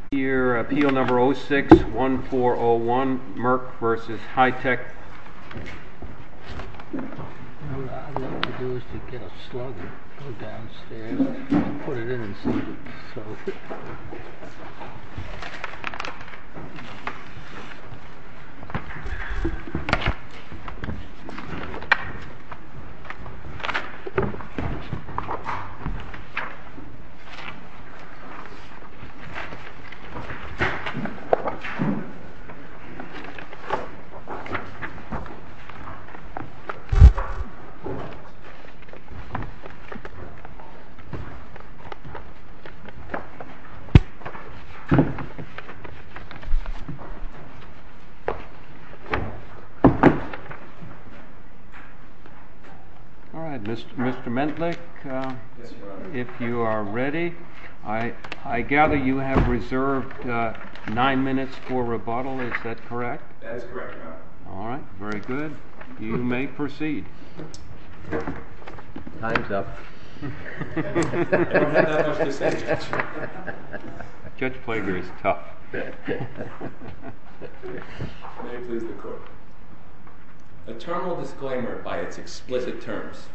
Appeal No. 06-1401 Merck v. Hi-Tech Appeal No. 06-1401 Merck v. Hi-Tech Appeal No. 06-1401 Merck v. Hi-Tech Interim Judge Plager Eternal Disclaimer by its explicit terms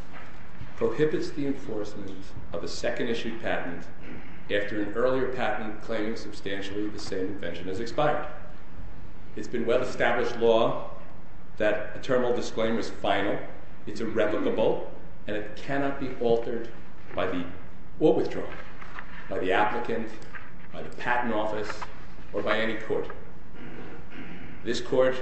prohibits the enforcement of a second-issued patent after an earlier patent claims substantially the same invention as expired. It's been well-established law that a Termal Disclaimer is final, it's irrevocable, and it cannot be altered by the or withdrawn, by the applicant, by the patent office, or by any court. This court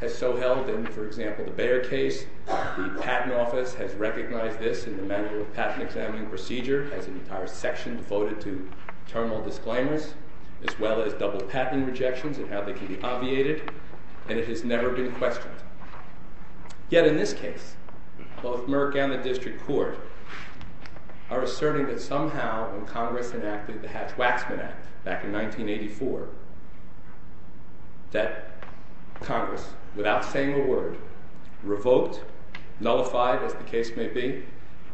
has so held in, for example, the Bayer case, the patent office has recognized this in the manual of patent examining procedure has an entire section devoted to Termal Disclaimers as well as double patent rejections and how they can be obviated and it has never been questioned. Yet in this case, both Merck and the District Court are asserting that somehow when Congress enacted the Hatch-Waxman Act back in 1984, that Congress, without saying a word, revoked, nullified as the case may be,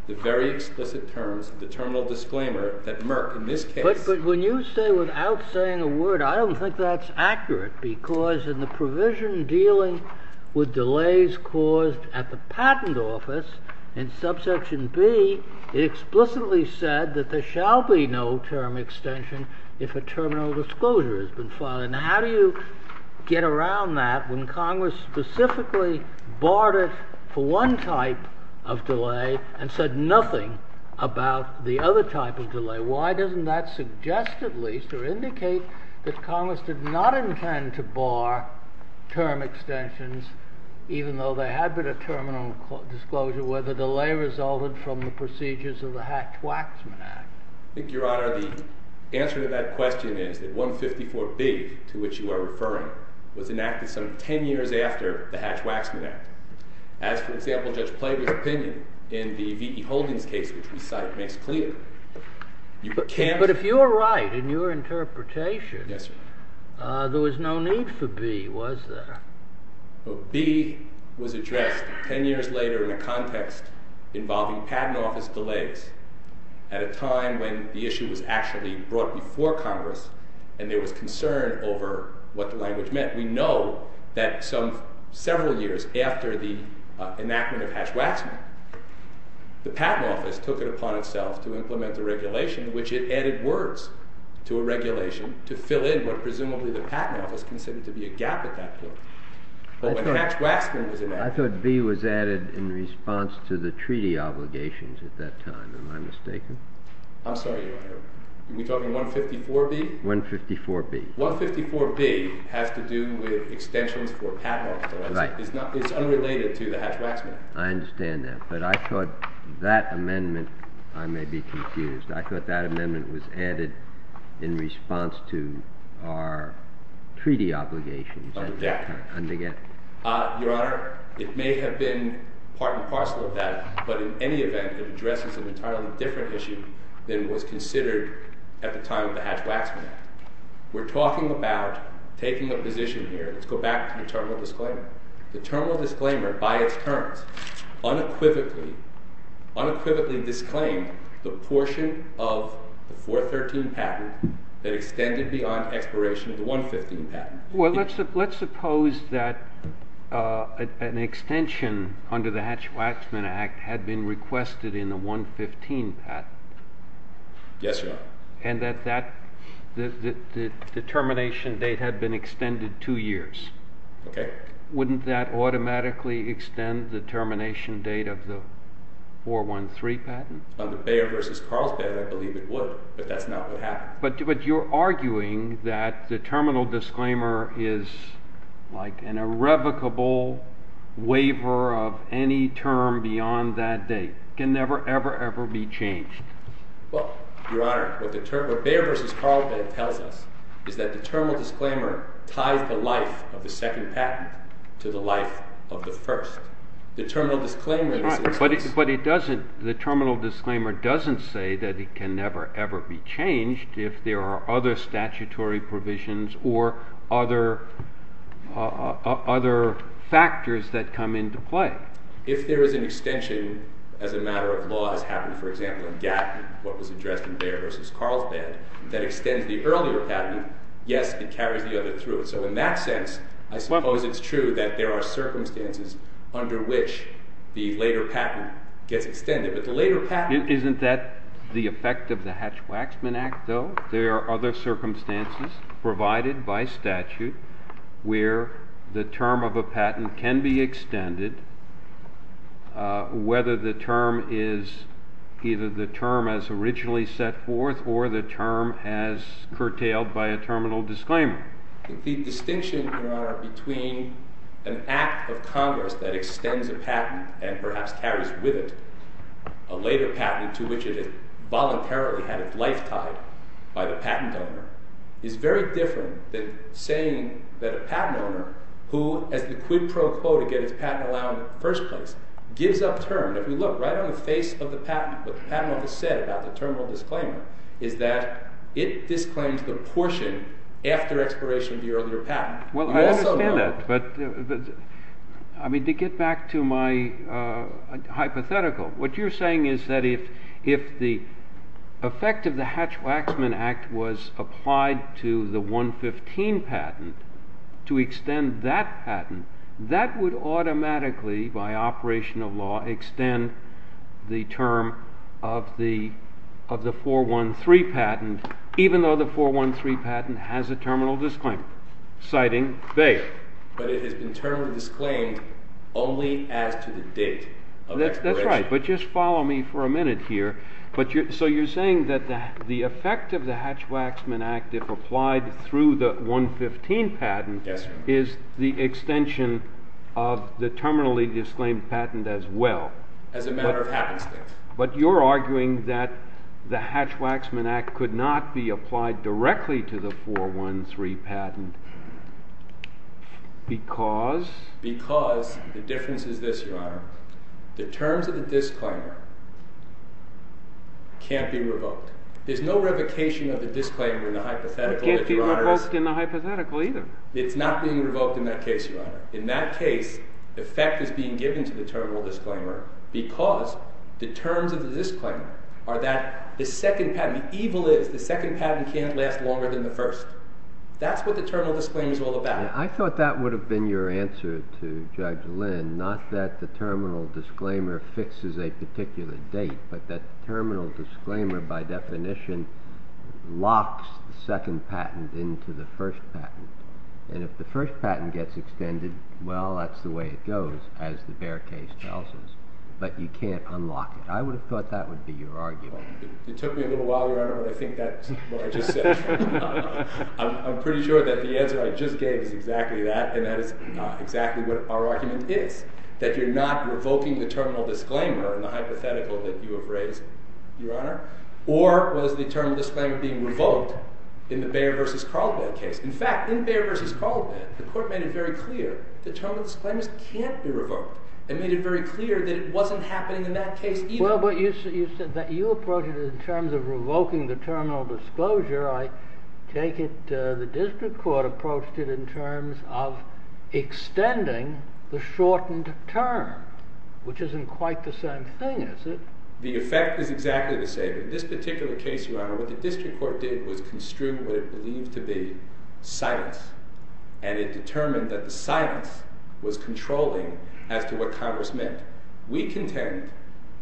the very explicit terms of the Termal Disclaimer that Merck in this case But when you say without saying a word, I don't think that's accurate because in the provision dealing with delays caused at the patent office in subsection B, it explicitly said that there shall be no term extension if a Termal Disclosure has been filed. Now how do you get around that when Congress specifically barred it for one type of delay and said nothing about the other type of delay? Why doesn't that suggest at least or indicate that Congress did not intend to bar term extensions even though there had been a Termal Disclosure where the delay resulted from the procedures of the Hatch-Waxman Act? I think, Your Honor, the answer to that question is that 154B to which you are referring was enacted some 10 years after the Hatch-Waxman Act. As, for example, Judge Plater's opinion in the V.E. Holdings case which we cite makes clear. But if you're right in your interpretation, there was no need for B, was there? B was addressed 10 years later in a context involving patent office delays at a time when the issue was actually brought before Congress and there was concern over what the language meant. We know that several years after the enactment of Hatch-Waxman, the patent office took it upon itself to implement the regulation which it added words to a regulation to fill in what presumably the patent office considered to be a gap at that point. But when Hatch-Waxman was enacted... I thought B was added in response to the treaty obligations at that time. Am I mistaken? I'm sorry, Your Honor. Are we talking 154B? 154B. 154B has to do with extensions for patent office delays. It's unrelated to the Hatch-Waxman. I understand that, but I thought that amendment... I may be confused. I thought that amendment was added in response to our treaty obligations at that time. Your Honor, it may have been part and parcel of that, but in any event, it addresses an entirely different issue than was considered at the time of the Hatch-Waxman Act. We're talking about taking a position here. Let's go back to the terminal disclaimer. The terminal disclaimer, by its terms, unequivocally disclaimed the portion of the 413 patent that extended beyond expiration of the 115 patent. Well, let's suppose that an extension under the Hatch-Waxman Act had been requested in the 115 patent. Yes, Your Honor. And that the termination date had been extended 2 years. Okay. Wouldn't that automatically extend the termination date of the 413 patent? On the Bayer v. Carlsbad, I believe it would, but that's not what happened. But you're arguing that the terminal disclaimer is like an irrevocable waiver of any term beyond that date. It can never, ever, ever be changed. Well, Your Honor, what Bayer v. Carlsbad tells us is that the terminal disclaimer ties the life of the second patent to the life of the first. The terminal disclaimer is the case. But the terminal disclaimer doesn't say that it can never, ever be changed if there are other statutory provisions or other factors that come into play. If there is an extension as a matter of law that has happened, for example, in Gatton, what was addressed in Bayer v. Carlsbad, that extends the earlier patent, yes, it carries the other through it. So in that sense, I suppose it's true that there are circumstances under which the later patent gets extended. Isn't that the effect of the Hatch-Waxman Act, though? There are other circumstances provided by statute where the term of a patent can be extended whether the term is either the term as originally set forth or the term as curtailed by a terminal disclaimer. and perhaps carries with it a later patent to which it voluntarily had its life tied by the patent owner is very different than saying that a patent owner who, as the quid pro quo to get its patent allowance in the first place, gives up term. If you look right on the face of the patent, what the patent office said about the terminal disclaimer is that it disclaims the portion after expiration of the earlier patent. Well, I understand that, but to get back to my hypothetical, what you're saying is that if the effect of the Hatch-Waxman Act was applied to the 115 patent, to extend that patent, that would automatically, by operational law, extend the term of the 413 patent, even though the 413 patent has a terminal disclaimer, citing base. But it has been terminally disclaimed only as to the date of expiration. That's right, but just follow me for a minute here. So you're saying that the effect of the Hatch-Waxman Act if applied through the 115 patent is the extension of the terminally disclaimed patent as well. As a matter of happenstance. But you're arguing that the Hatch-Waxman Act could not be applied directly to the 413 patent because? Because the difference is this, Your Honor. The terms of the disclaimer can't be revoked. There's no revocation of the disclaimer in the hypothetical. It can't be revoked in the hypothetical either. It's not being revoked in that case, Your Honor. In that case, effect is being given to the terminal disclaimer because the terms of the disclaimer are that the second patent, the evil is the second patent can't last longer than the first. That's what the terminal disclaimer is all about. I thought that would have been your answer to Judge Lynn, not that the terminal disclaimer fixes a particular date, but that the terminal disclaimer by definition locks the second patent into the first patent. And if the first patent gets extended, well, that's the way it goes, as the Baer case tells us. But you can't unlock it. I would have thought that would be your argument. It took me a little while, Your Honor, but I think that's what I just said. I'm pretty sure that the answer I just gave is exactly that, and that is exactly what our argument is, that you're not revoking the terminal disclaimer in the hypothetical that you have raised, Your Honor. Or was the terminal disclaimer being revoked in the Baer versus Carlebad case? In fact, in Baer versus Carlebad, the court made it very clear that terminal disclaimers can't be revoked. It made it very clear that it wasn't happening in that case either. Well, but you said that you approached it in terms of revoking the terminal disclosure. I take it the district court approached it in terms of extending the shortened term, which isn't quite the same thing, is it? The effect is exactly the same. In this particular case, Your Honor, what the district court did was construe what it believed to be silence, and it determined that the silence was controlling as to what Congress meant. We contend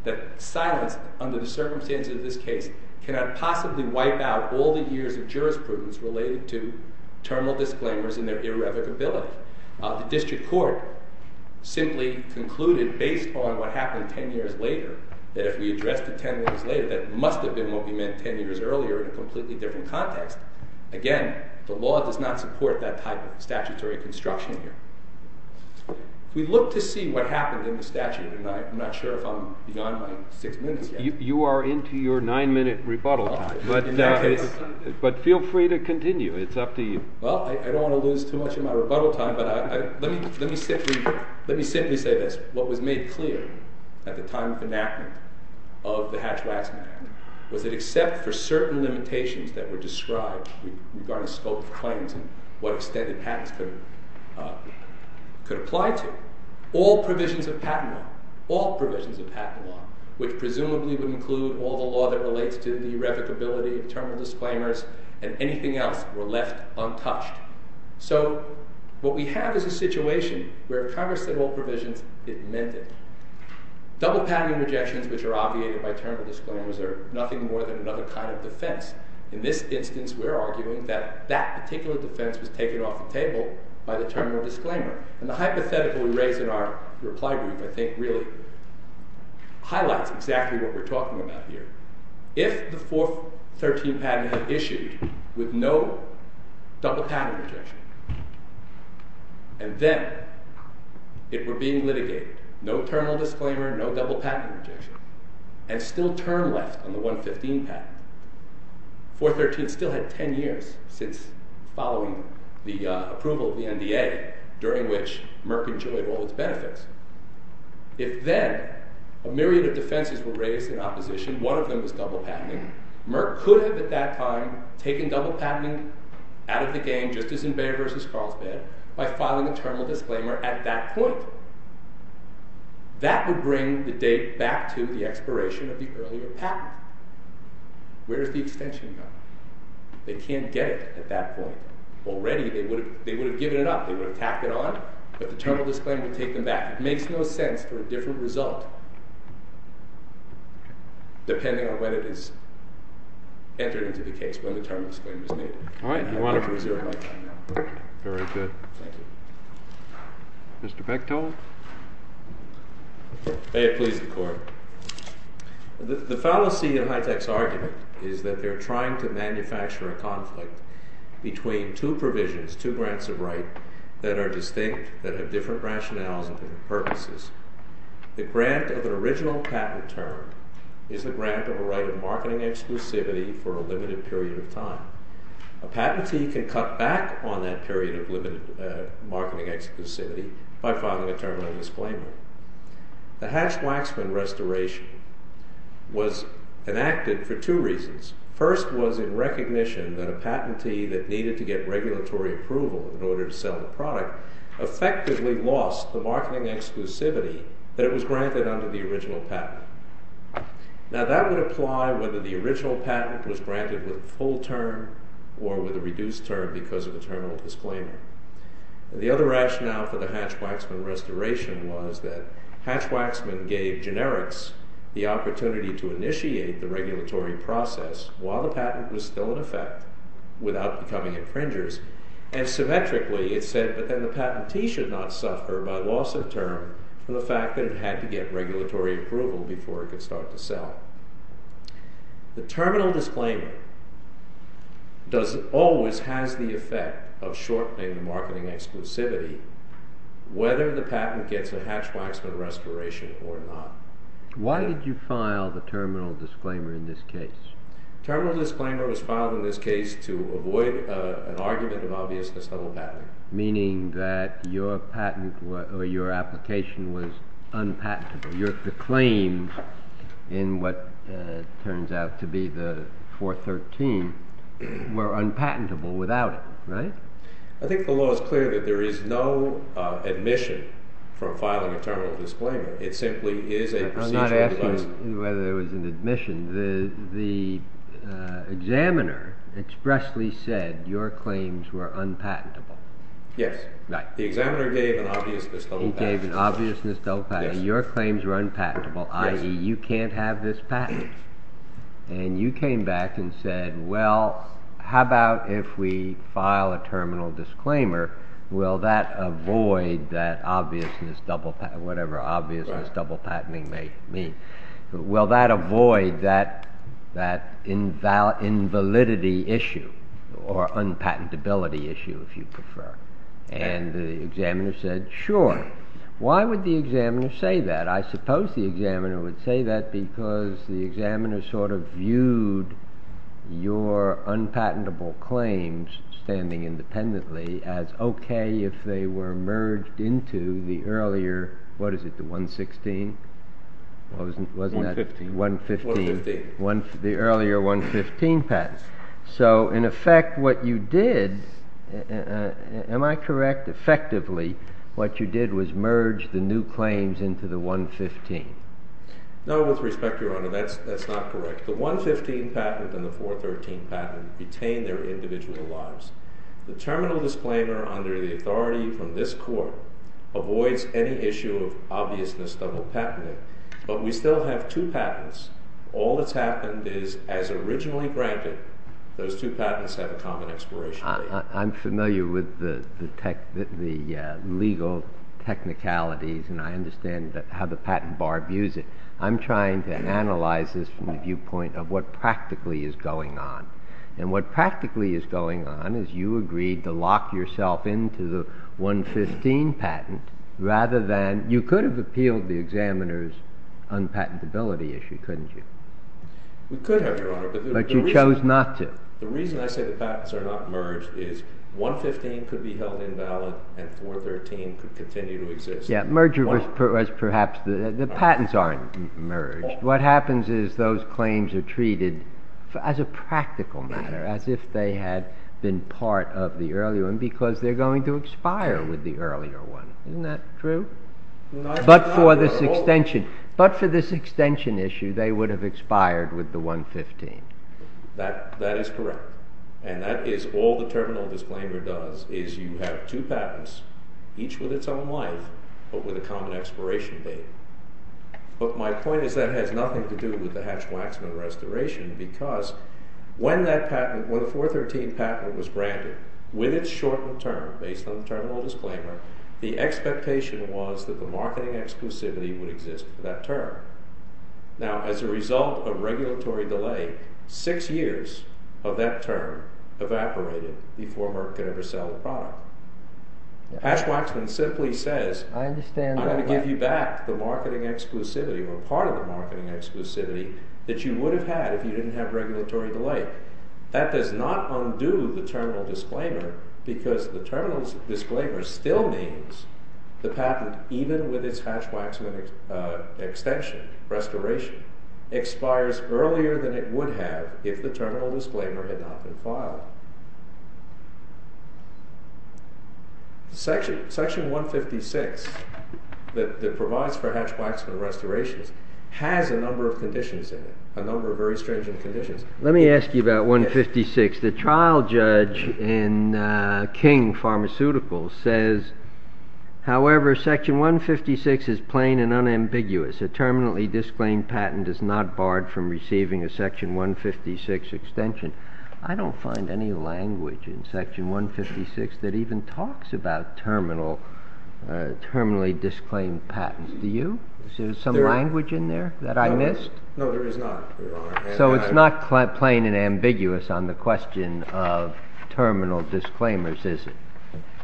that silence, under the circumstances of this case, cannot possibly wipe out all the years of jurisprudence related to terminal disclaimers and their irrevocability. The district court simply concluded, based on what happened 10 years later, that if we addressed it 10 years later, that it must have been what we meant 10 years earlier in a completely different context. Again, the law does not support that type of statutory construction here. We look to see what happened in the statute, and I'm not sure if I'm beyond my six minutes yet. You are into your nine-minute rebuttal time. But feel free to continue. It's up to you. Well, I don't want to lose too much of my rebuttal time, but let me simply say this. What was made clear at the time of enactment of the Hatch-Waxman Act was that except for certain limitations that were described regarding scope of claims and what extent the patents could apply to, all provisions of patent law, all provisions of patent law, which presumably would include all the law that relates to the irrevocability of terminal disclaimers and anything else, were left untouched. So what we have is a situation where Congress said all provisions, it meant it. Double patenting rejections, which are obviated by terminal disclaimers, are nothing more than another kind of defense. In this instance, we're arguing that that particular defense was taken off the table by the terminal disclaimer. And the hypothetical we raise in our reply group, I think, really highlights exactly what we're talking about here. If the 413 patent had issued with no double patent rejection, and then it were being litigated, no terminal disclaimer, no double patent rejection, and still term left on the 115 patent, 413 still had ten years since following the approval of the NDA, during which Merck enjoyed all its benefits. If then a myriad of defenses were raised in opposition, one of them was double patenting, Merck could have at that time taken double patenting out of the game, just as in Bay v. Carlsbad, by filing a terminal disclaimer at that point. That would bring the date back to the expiration of the earlier patent. Where's the extension gone? They can't get it at that point. Already they would have given it up, they would have tacked it on, but the terminal disclaimer would take them back. It makes no sense for a different result, depending on when it is entered into the case, when the terminal disclaimer is made. All right, wonderful. Very good. Mr. Bechtold? May it please the Court. The fallacy in Hitek's argument is that they're trying to manufacture a conflict between two provisions, two grants of right, that are distinct, that have different rationales and different purposes. The grant of an original patent term is the grant of a right of marketing exclusivity for a limited period of time. A patentee can cut back on that period of limited marketing exclusivity by filing a terminal disclaimer. The Hatch-Waxman restoration was enacted for two reasons. First was in recognition that a patentee that needed to get regulatory approval in order to sell the product effectively lost the marketing exclusivity that it was granted under the original patent. Now, that would apply whether the original patent was granted with a full term or with a reduced term because of the terminal disclaimer. The other rationale for the Hatch-Waxman restoration was that Hatch-Waxman gave generics the opportunity to initiate the regulatory process while the patent was still in effect without becoming infringers. And symmetrically, it said that the patentee should not suffer by loss of term from the fact that it had to get regulatory approval before it could start to sell. The terminal disclaimer always has the effect of shortening the marketing exclusivity whether the patent gets a Hatch-Waxman restoration or not. Why did you file the terminal disclaimer in this case? The terminal disclaimer was filed in this case to avoid an argument of obviousness that will happen. Meaning that your patent or your application was unpatentable. Your claims in what turns out to be the 413 were unpatentable without it, right? I think the law is clear that there is no admission from filing a terminal disclaimer. It simply is a procedural device. I'm not asking whether there was an admission. The examiner expressly said your claims were unpatentable. Yes. The examiner gave an obviousness double patent. Your claims were unpatentable. You can't have this patent. You came back and said how about if we file a terminal disclaimer will that avoid that obviousness double patent whatever obviousness double patenting may mean. Will that avoid that invalidity issue or unpatentability issue if you prefer. The examiner said sure. Why would the examiner say that? I suppose the examiner would say that because the examiner sort of viewed your unpatentable claims standing independently as okay if they were merged into the earlier what is it the 116? Wasn't that the 115? 115. The earlier 115 patents. So in effect what you did am I correct effectively what you did was merge the new claims into the 115. No with respect your honor that's not correct. The 115 patent and the 413 patent retain their individual lives. The terminal disclaimer under the authority from this court avoids any issue of obviousness double patenting. But we still have two patents. All that's happened is as originally granted those two patents have a common expiration date. I'm familiar with the legal technicalities and I understand how the patent bar views it. I'm trying to analyze this from the viewpoint of what practically is going on. And what practically is going on is you agreed to lock yourself into the 115 patent rather than you could have appealed the examiner's unpatentability issue couldn't you? We could have your honor. But you chose not to. The reason I say the patents are not merged is 115 could be held invalid and 413 could continue to exist. Yeah merger was perhaps the patents aren't merged. What happens is those claims are treated as a practical matter as if they had been part of the earlier one because they're going to expire with the earlier one. Isn't that true? But for this extension issue they would have expired with the 115. That is correct. And that is all the terminal disclaimer does is you have two patents each with its own life but with a common expiration date. But my point is that has nothing to do with the Hatch-Waxman restoration because when the 413 patent was branded with its shortened term based on the terminal disclaimer the expectation was that the marketing exclusivity would exist for that term. Now as a result of regulatory delay six years of that term evaporated before Merck could ever sell the product. Hatch-Waxman simply says I'm going to give you back the marketing exclusivity or part of the marketing exclusivity that you would have had if you didn't have regulatory delay. That does not undo the terminal disclaimer because the terminal disclaimer still means the patent even with its Hatch-Waxman extension restoration expires earlier than it would have if the terminal disclaimer had not been filed. Section 156 that provides for Hatch-Waxman restorations has a number of conditions in it. A number of very stringent conditions. Let me ask you about 156. The trial judge in King Pharmaceuticals says However, section 156 is plain and unambiguous. A terminally disclaimed patent is not barred from receiving a section 156 extension. I don't find any language in section 156 that even talks about terminally disclaimed patents. Do you? Is there some language in there that I missed? No, there is not, Your Honor. So it's not plain and ambiguous on the question of terminal disclaimers, is it?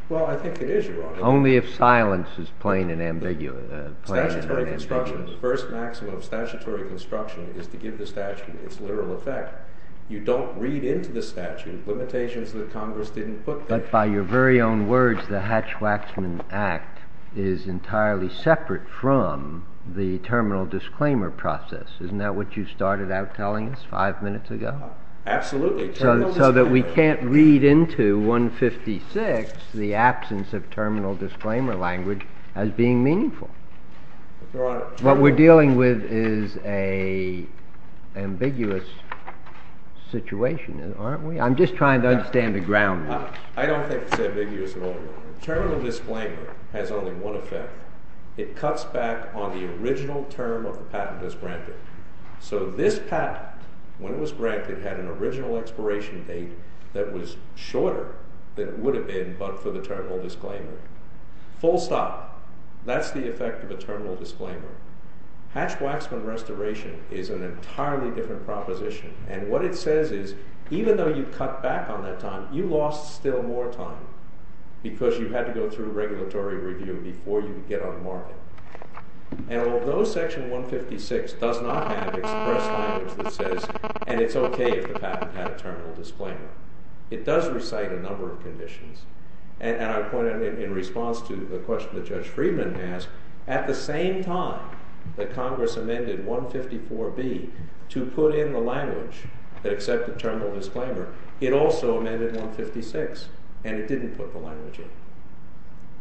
Well, I think it is, Your Honor. Only if silence is plain and ambiguous. Statutory construction. The first maximum of statutory construction is to give the statute its literal effect. You don't read into the statute limitations that Congress didn't put there. But by your very own words, the Hatch-Waxman Act is entirely separate from the terminal disclaimer process. Isn't that what you started out telling us five minutes ago? Absolutely. So that we can't read into 156 the absence of terminal disclaimer language as being meaningful. What we're dealing with is an ambiguous situation, aren't we? I'm just trying to understand the ground. I don't think it's ambiguous at all. Terminal disclaimer has only one effect. It cuts back on the original term of the patent that's granted. So this patent, when it was granted, had an original expiration date that was shorter than it would have been but for the terminal disclaimer. Full stop. That's the effect of a terminal disclaimer. Hatch-Waxman restoration is an entirely different proposition. And what it says is, even though you cut back on that time, you lost still more time because you had to go through regulatory review before you could get on the market. And although Section 156 does not have express language that says, and it's okay if the patent had a terminal disclaimer, it does recite a number of conditions. And I point out, in response to the question that Judge Friedman asked, at the same time that Congress amended 154B to put in the language that accepted terminal disclaimer, it also amended 156 and it didn't put the language in.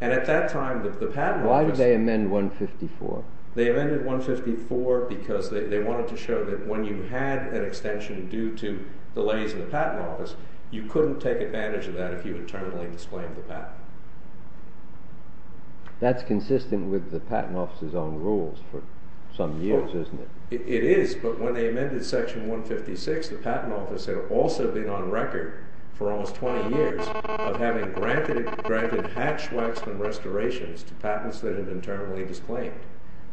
And at that time, the patent office... Why did they amend 154? They amended 154 because they wanted to show that when you had an extension due to delays in the patent office, you couldn't take advantage of that if you had terminally disclaimed the patent. That's consistent with the patent office's own rules for some years, isn't it? It is, but when they amended Section 156, the patent office had also been on record for almost 20 years of having granted hatch-waxman restorations to patents that had been terminally disclaimed.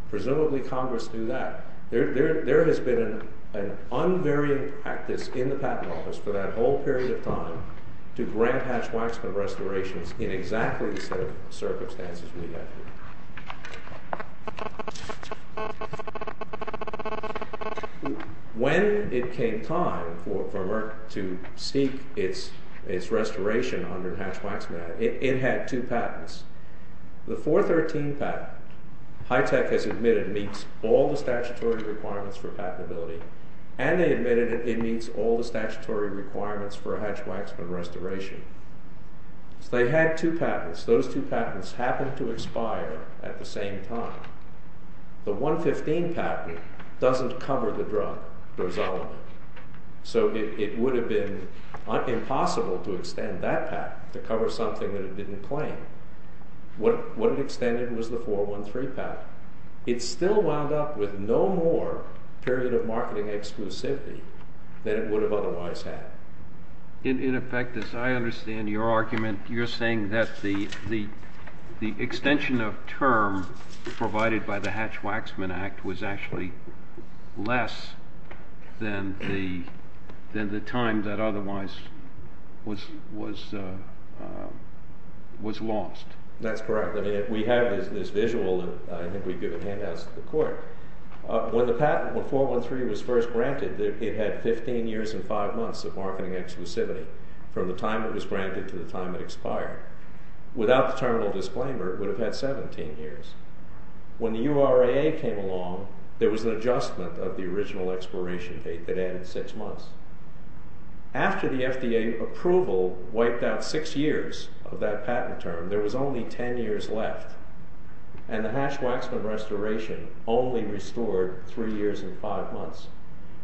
Presumably, Congress knew that. There has been an unvarying practice in the patent office for that whole period of time to grant hatch-waxman restorations in exactly the same circumstances we have here. When it came time for Merck to seek its restoration under hatch-waxman, it had two patents. The 413 patent HITECH has admitted meets all the statutory requirements for patentability, and they admitted it meets all the statutory requirements for a hatch-waxman restoration. They had two patents. Those two patents happened to expire at the same time. The 115 patent doesn't cover the drug drosolamine. It would have been impossible to extend that patent to cover something that it didn't claim. What it extended was the 413 patent. It still wound up with no more period of marketing exclusivity than it would have otherwise had. In effect, as I understand your argument, you're saying that the extension of term provided by the Hatch-Waxman Act was actually less than the time that otherwise was lost. That's correct. We have this visual, and I think we've given handouts to the court. When the 413 was first granted, it had 15 years and 5 months of marketing exclusivity from the time it was granted to the time it expired. Without the terminal disclaimer, it would have had 17 years. When the URAA came along, there was an adjustment of the original expiration date that added 6 months. After the FDA approval wiped out 6 years of that patent term, there was only 10 years left, and the Hatch-Waxman restoration only restored 3 years and 5 months.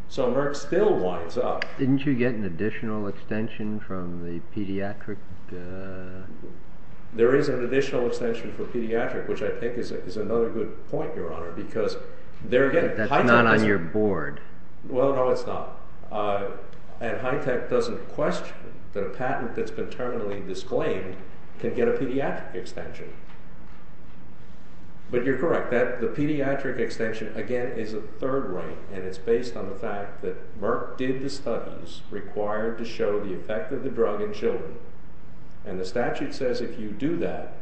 So Merck still winds up... Didn't you get an additional extension from the pediatric... There is an additional extension for pediatric, which I think is another good point, Your Honor, because they're getting... That's not on your board. Well, no, it's not. And HITECH doesn't question that a patent that's been terminally disclaimed can get a pediatric extension. But you're correct. The pediatric extension, again, is a third right, and it's based on the fact that Merck did the studies required to show the effect of the drug in children, and the statute says if you do that,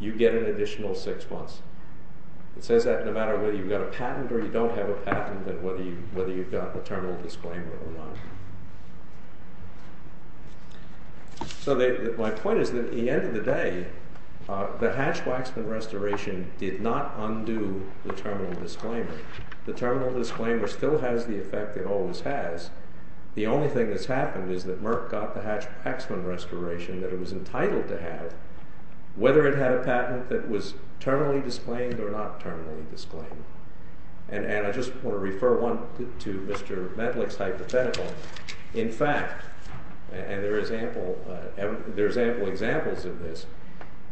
you get an additional 6 months. It says that no matter whether you've got a patent or you don't have a patent, that whether you've got the terminal disclaimer or not. So my point is that at the end of the day, the Hatch-Waxman restoration did not undo the terminal disclaimer. The terminal disclaimer still has the effect it always has. The only thing that's happened is that Merck got the Hatch-Waxman restoration that it was entitled to have whether it had a patent that was terminally disclaimed or not and I just want to refer one to Mr. Medlich's hypothetical. In fact, and there is ample examples of this,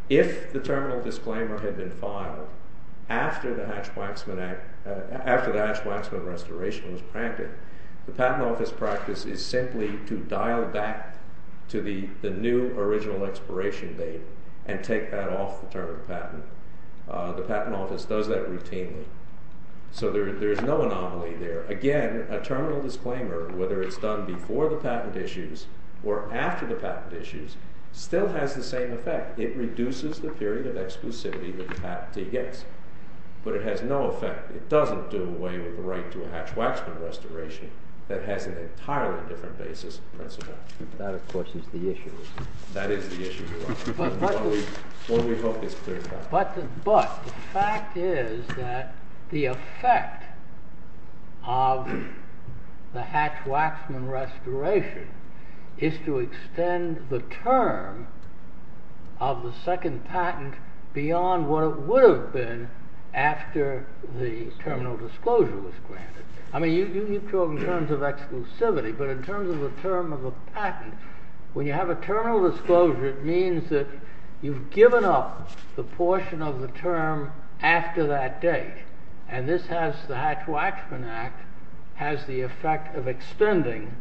if the terminal disclaimer had been filed after the Hatch-Waxman restoration was pranked, the patent office practice is simply to dial back to the new original expiration date and take that off the term of patent. The patent office does that routinely. So there's no anomaly there. Again, a terminal disclaimer, whether it's done before the patent issues or after the patent issues still has the same effect. It reduces the period of exclusivity that the patent takes. But it has no effect. It doesn't do away with the right to a Hatch-Waxman restoration that has an entirely different basis and principle. That, of course, is the issue. That is the issue. What we hope is clear. But the fact is that the effect of the Hatch-Waxman restoration is to extend the term of the second patent beyond what it would have been after the terminal disclosure was granted. I mean, you've talked in terms of exclusivity, but in terms of the term of a patent, when you have a terminal disclosure, it means that you've given up the portion of the term after that date. And this has the Hatch-Waxman Act has the effect of extending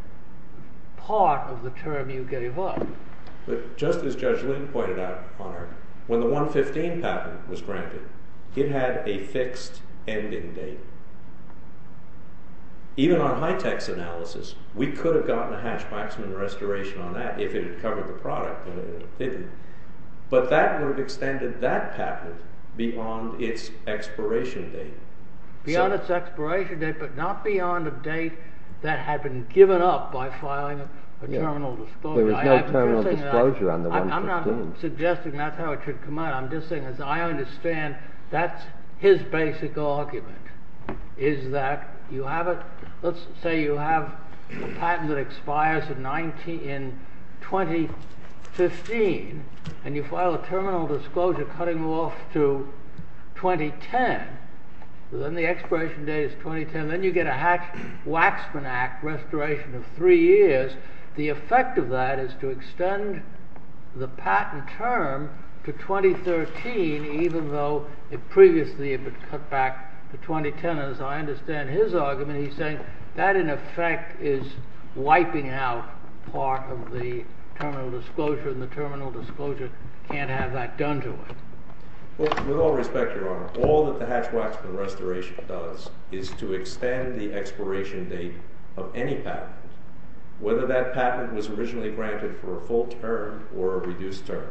part of the term you gave up. But just as Judge Lynn pointed out, Honor, when the 115 patent was granted, it had a fixed ending date. Even on high-tech's analysis, we could have gotten a Hatch-Waxman restoration on that if it had covered the product, but that would have extended that patent beyond its expiration date. Beyond its expiration date, but not beyond a date that had been given up by filing a terminal disclosure. There was no terminal disclosure on the 115. I'm not suggesting that's how it should come out. I'm just saying, as I understand, that's his basic argument, is that you have it. Let's say you have a patent that expires in 2015, and you file a terminal disclosure cutting off to 2010. Then the expiration date is 2010. Then you get a Hatch-Waxman Act restoration of three years. The effect of that is to extend the patent term to 2013, even though it previously had been cut back to 2010. As I understand his argument, he's saying that in effect is wiping out part of the terminal disclosure, and the terminal disclosure can't have that done to it. With all respect, Your Honor, all that the Hatch-Waxman restoration does is to extend the expiration date of any patent, whether that patent was originally granted for a full term or a reduced term.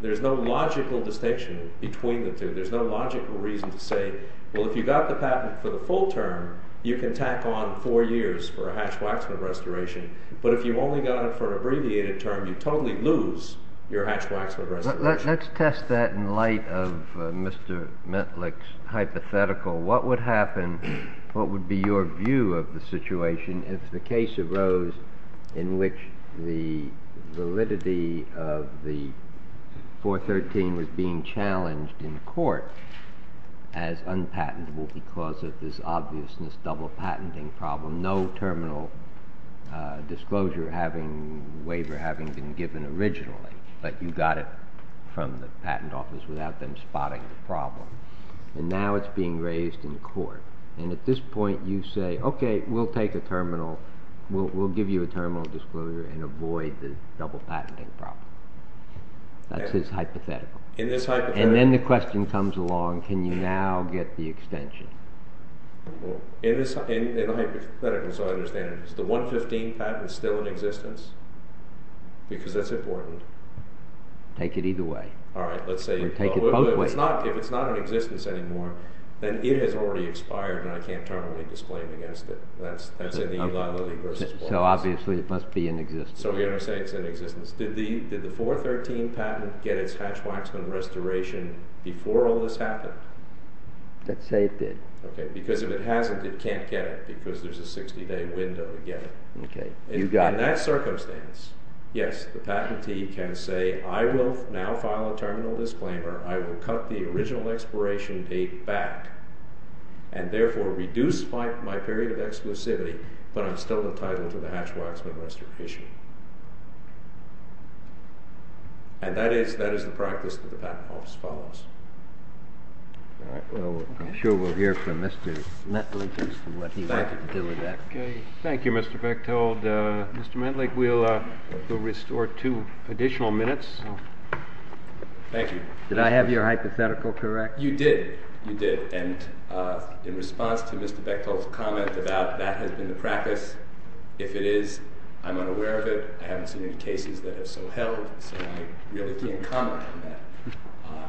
There's no logical distinction between the two. There's no logical reason to say, well, if you got the patent for the full term, you can tack on four years for a Hatch-Waxman restoration, but if you only got it for an abbreviated term, you totally lose your Hatch-Waxman restoration. Let's test that in light of Mr. Mitlick's hypothetical. What would happen, what would be your view of the situation if the case arose in which the validity of the 413 was being challenged in court as unpatentable because of this obviousness, double-patenting problem, no terminal disclosure having, waiver having been given originally, but you got it from the patent office without them spotting the problem. And now it's being raised in court. And at this point, you say, okay, we'll take a terminal, we'll give you a terminal disclosure and avoid the double-patenting problem. That's his hypothetical. And then the question comes along, can you now get the extension? In the hypothetical, so I understand, is the 115 patent still in existence? Because that's important. Take it either way. If it's not in existence anymore, then it has already expired and I can't terminally disclaim against it. So obviously it must be in existence. So we understand it's in existence. Did the 413 patent get its Hatch-Waxman restoration before all this happened? Let's say it did. Because if it hasn't, it can't get it because there's a 60-day window to get it. In that circumstance, yes, the patentee can say, I will now file a terminal disclaimer, I will cut the original expiration date back and therefore reduce my period of exclusivity, but I'm still entitled to the Hatch-Waxman restoration. And that is the practice of the patent office as follows. I'm sure we'll hear from Mr. Matlick as to what he wanted to do with that. Thank you, Mr. Bechtold. Mr. Matlick, we'll restore two additional minutes. Thank you. Did I have your hypothetical correct? You did. You did. In response to Mr. Bechtold's comment about that has been the practice, if it is, I'm unaware of it. I haven't seen any cases that have so detailed, so I really can't comment on that.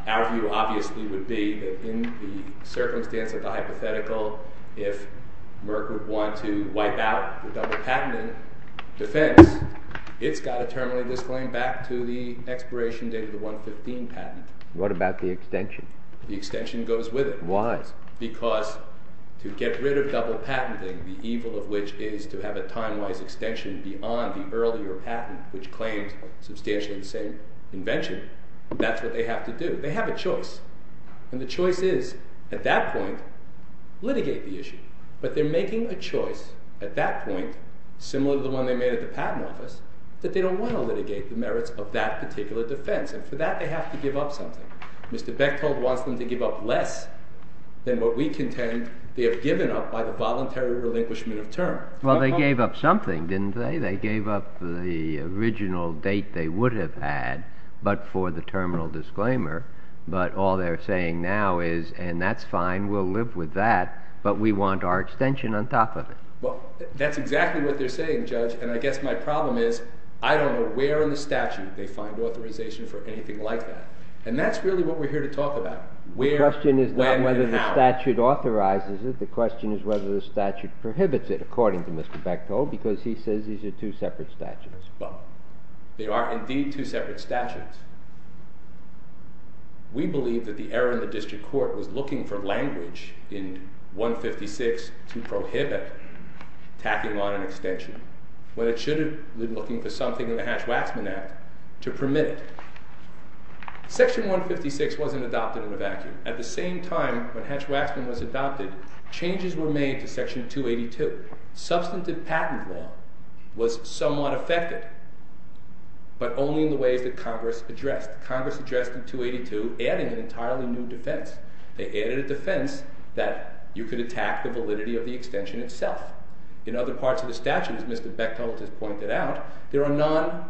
Our view, obviously, would be that in the circumstance of the hypothetical, if Merck would want to wipe out the double patent defense, it's got to terminate this claim back to the expiration date of the 115 patent. What about the extension? The extension goes with it. Why? Because to get rid of double patenting, the evil of which is to have a time-wise extension beyond the earlier patent, which claims substantially the same invention. That's what they have to do. They have a choice. And the choice is, at that point, litigate the issue. But they're making a choice at that point, similar to the one they made at the patent office, that they don't want to litigate the merits of that particular defense. And for that, they have to give up something. Mr. Bechtold wants them to give up less than what we contend they have given up by the voluntary relinquishment of term. Well, they gave up something, didn't they? They gave up the original date they would have had, but for the terminal disclaimer. But all they're saying now is, and that's fine, we'll live with that, but we want our extension on top of it. That's exactly what they're saying, Judge. And I guess my problem is, I don't know where in the statute they find authorization for anything like that. And that's really what we're here to talk about. The question is not whether the statute authorizes it. The question is whether the statute prohibits it, according to Mr. Bechtold, because he says these are two separate statutes. Well, they are indeed two separate statutes. We believe that the error in the district court was looking for language in 156 to prohibit tacking on an extension, when it should have been looking for something in the Hatch-Waxman Act to permit it. Section 156 wasn't adopted in a vacuum. At the same time when Hatch-Waxman was adopted, changes were made to Section 282. Substantive patent law was somewhat affected, but only in the ways that Congress addressed. Congress addressed in 282, adding an entirely new defense. They added a defense that you could attack the validity of the extension itself. In other parts of the statute, as Mr. Bechtold has pointed out, there are non-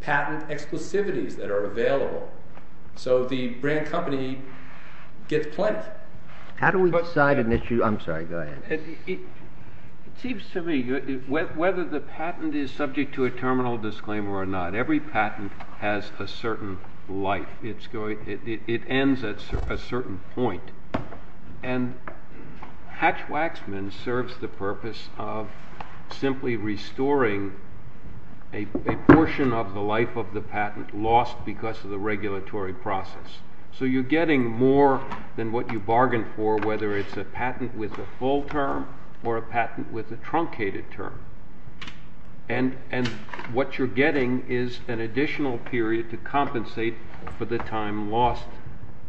patent exclusivities that are available. So the brand company gets plenty. How do we decide an issue? I'm sorry, go ahead. It seems to me, whether the patent is subject to a terminal disclaimer or not, every patent has a certain life. It ends at a certain point. Hatch-Waxman serves the purpose of simply restoring a portion of the life of the patent lost because of the regulatory process. So you're getting more than what you bargained for, whether it's a patent with a full term or a patent with a truncated term. And what you're getting is an additional period to compensate for the time lost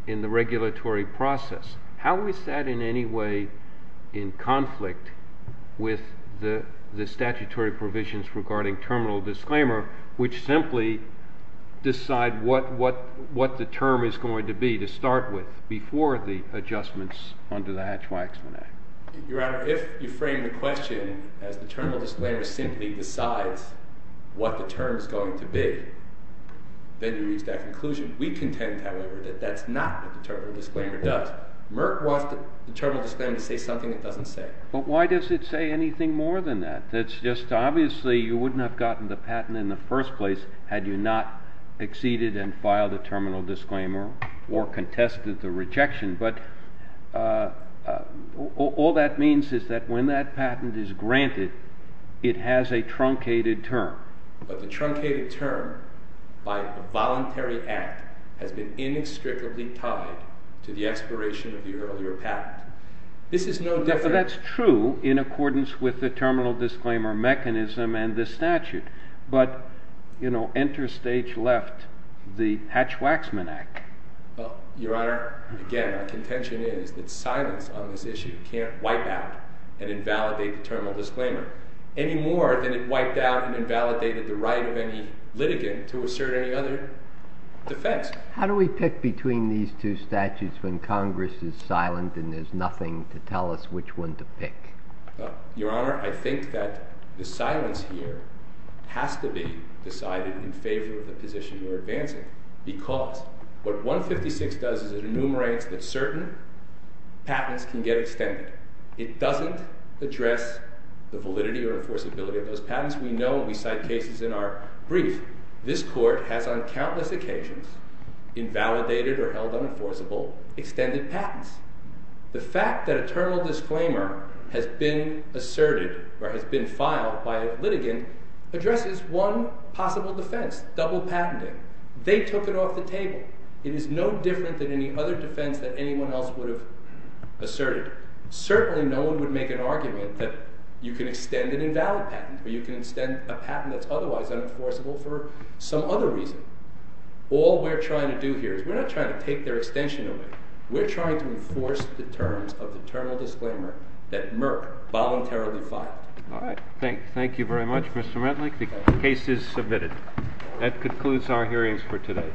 in the regulatory process. How is that in any way in conflict with the statutory provisions regarding terminal disclaimer, which simply decide what the term is going to be to start with before the adjustments under the Hatch-Waxman Act? Your Honor, if you frame the question as the terminal disclaimer simply decides what the term is going to be, then you reach that conclusion. We contend, however, that that's not what the terminal disclaimer does. Merck wants the terminal disclaimer to say something it doesn't say. But why does it say anything more than that? That's just, obviously, you wouldn't have gotten the patent in the first place had you not acceded and filed a terminal disclaimer or contested the rejection. But all that means is that when that patent is granted, it has a truncated term. But the truncated term by a voluntary act has been inextricably tied to the expiration of the earlier patent. This is no different... That's true in accordance with the terminal disclaimer mechanism and the interstage left, the Hatch-Waxman Act. Your Honor, again, my contention is that silence on this issue can't wipe out and invalidate the terminal disclaimer any more than it wiped out and invalidated the right of any litigant to assert any other defense. How do we pick between these two statutes when Congress is silent and there's nothing to tell us which one to pick? Your Honor, I think that the silence here has to be decided in favor of the position you're advancing because what 156 does is it enumerates that certain patents can get extended. It doesn't address the validity or enforceability of those patents. We know when we cite cases in our brief, this Court has on countless occasions invalidated or held unenforceable extended patents. The fact that a terminal disclaimer has been asserted or has been filed by a litigant addresses one possible defense, double patenting. They took it off the table. It is no different than any other defense that anyone else would have asserted. Certainly no one would make an argument that you can extend an invalid patent or you can extend a patent that's otherwise unenforceable for some other reason. All we're trying to do here is we're not trying to take their extension away. We're trying to enforce the terms of the terminal disclaimer that they have. All right. Thank you very much, Mr. Redlich. The case is submitted. That concludes our hearings for today.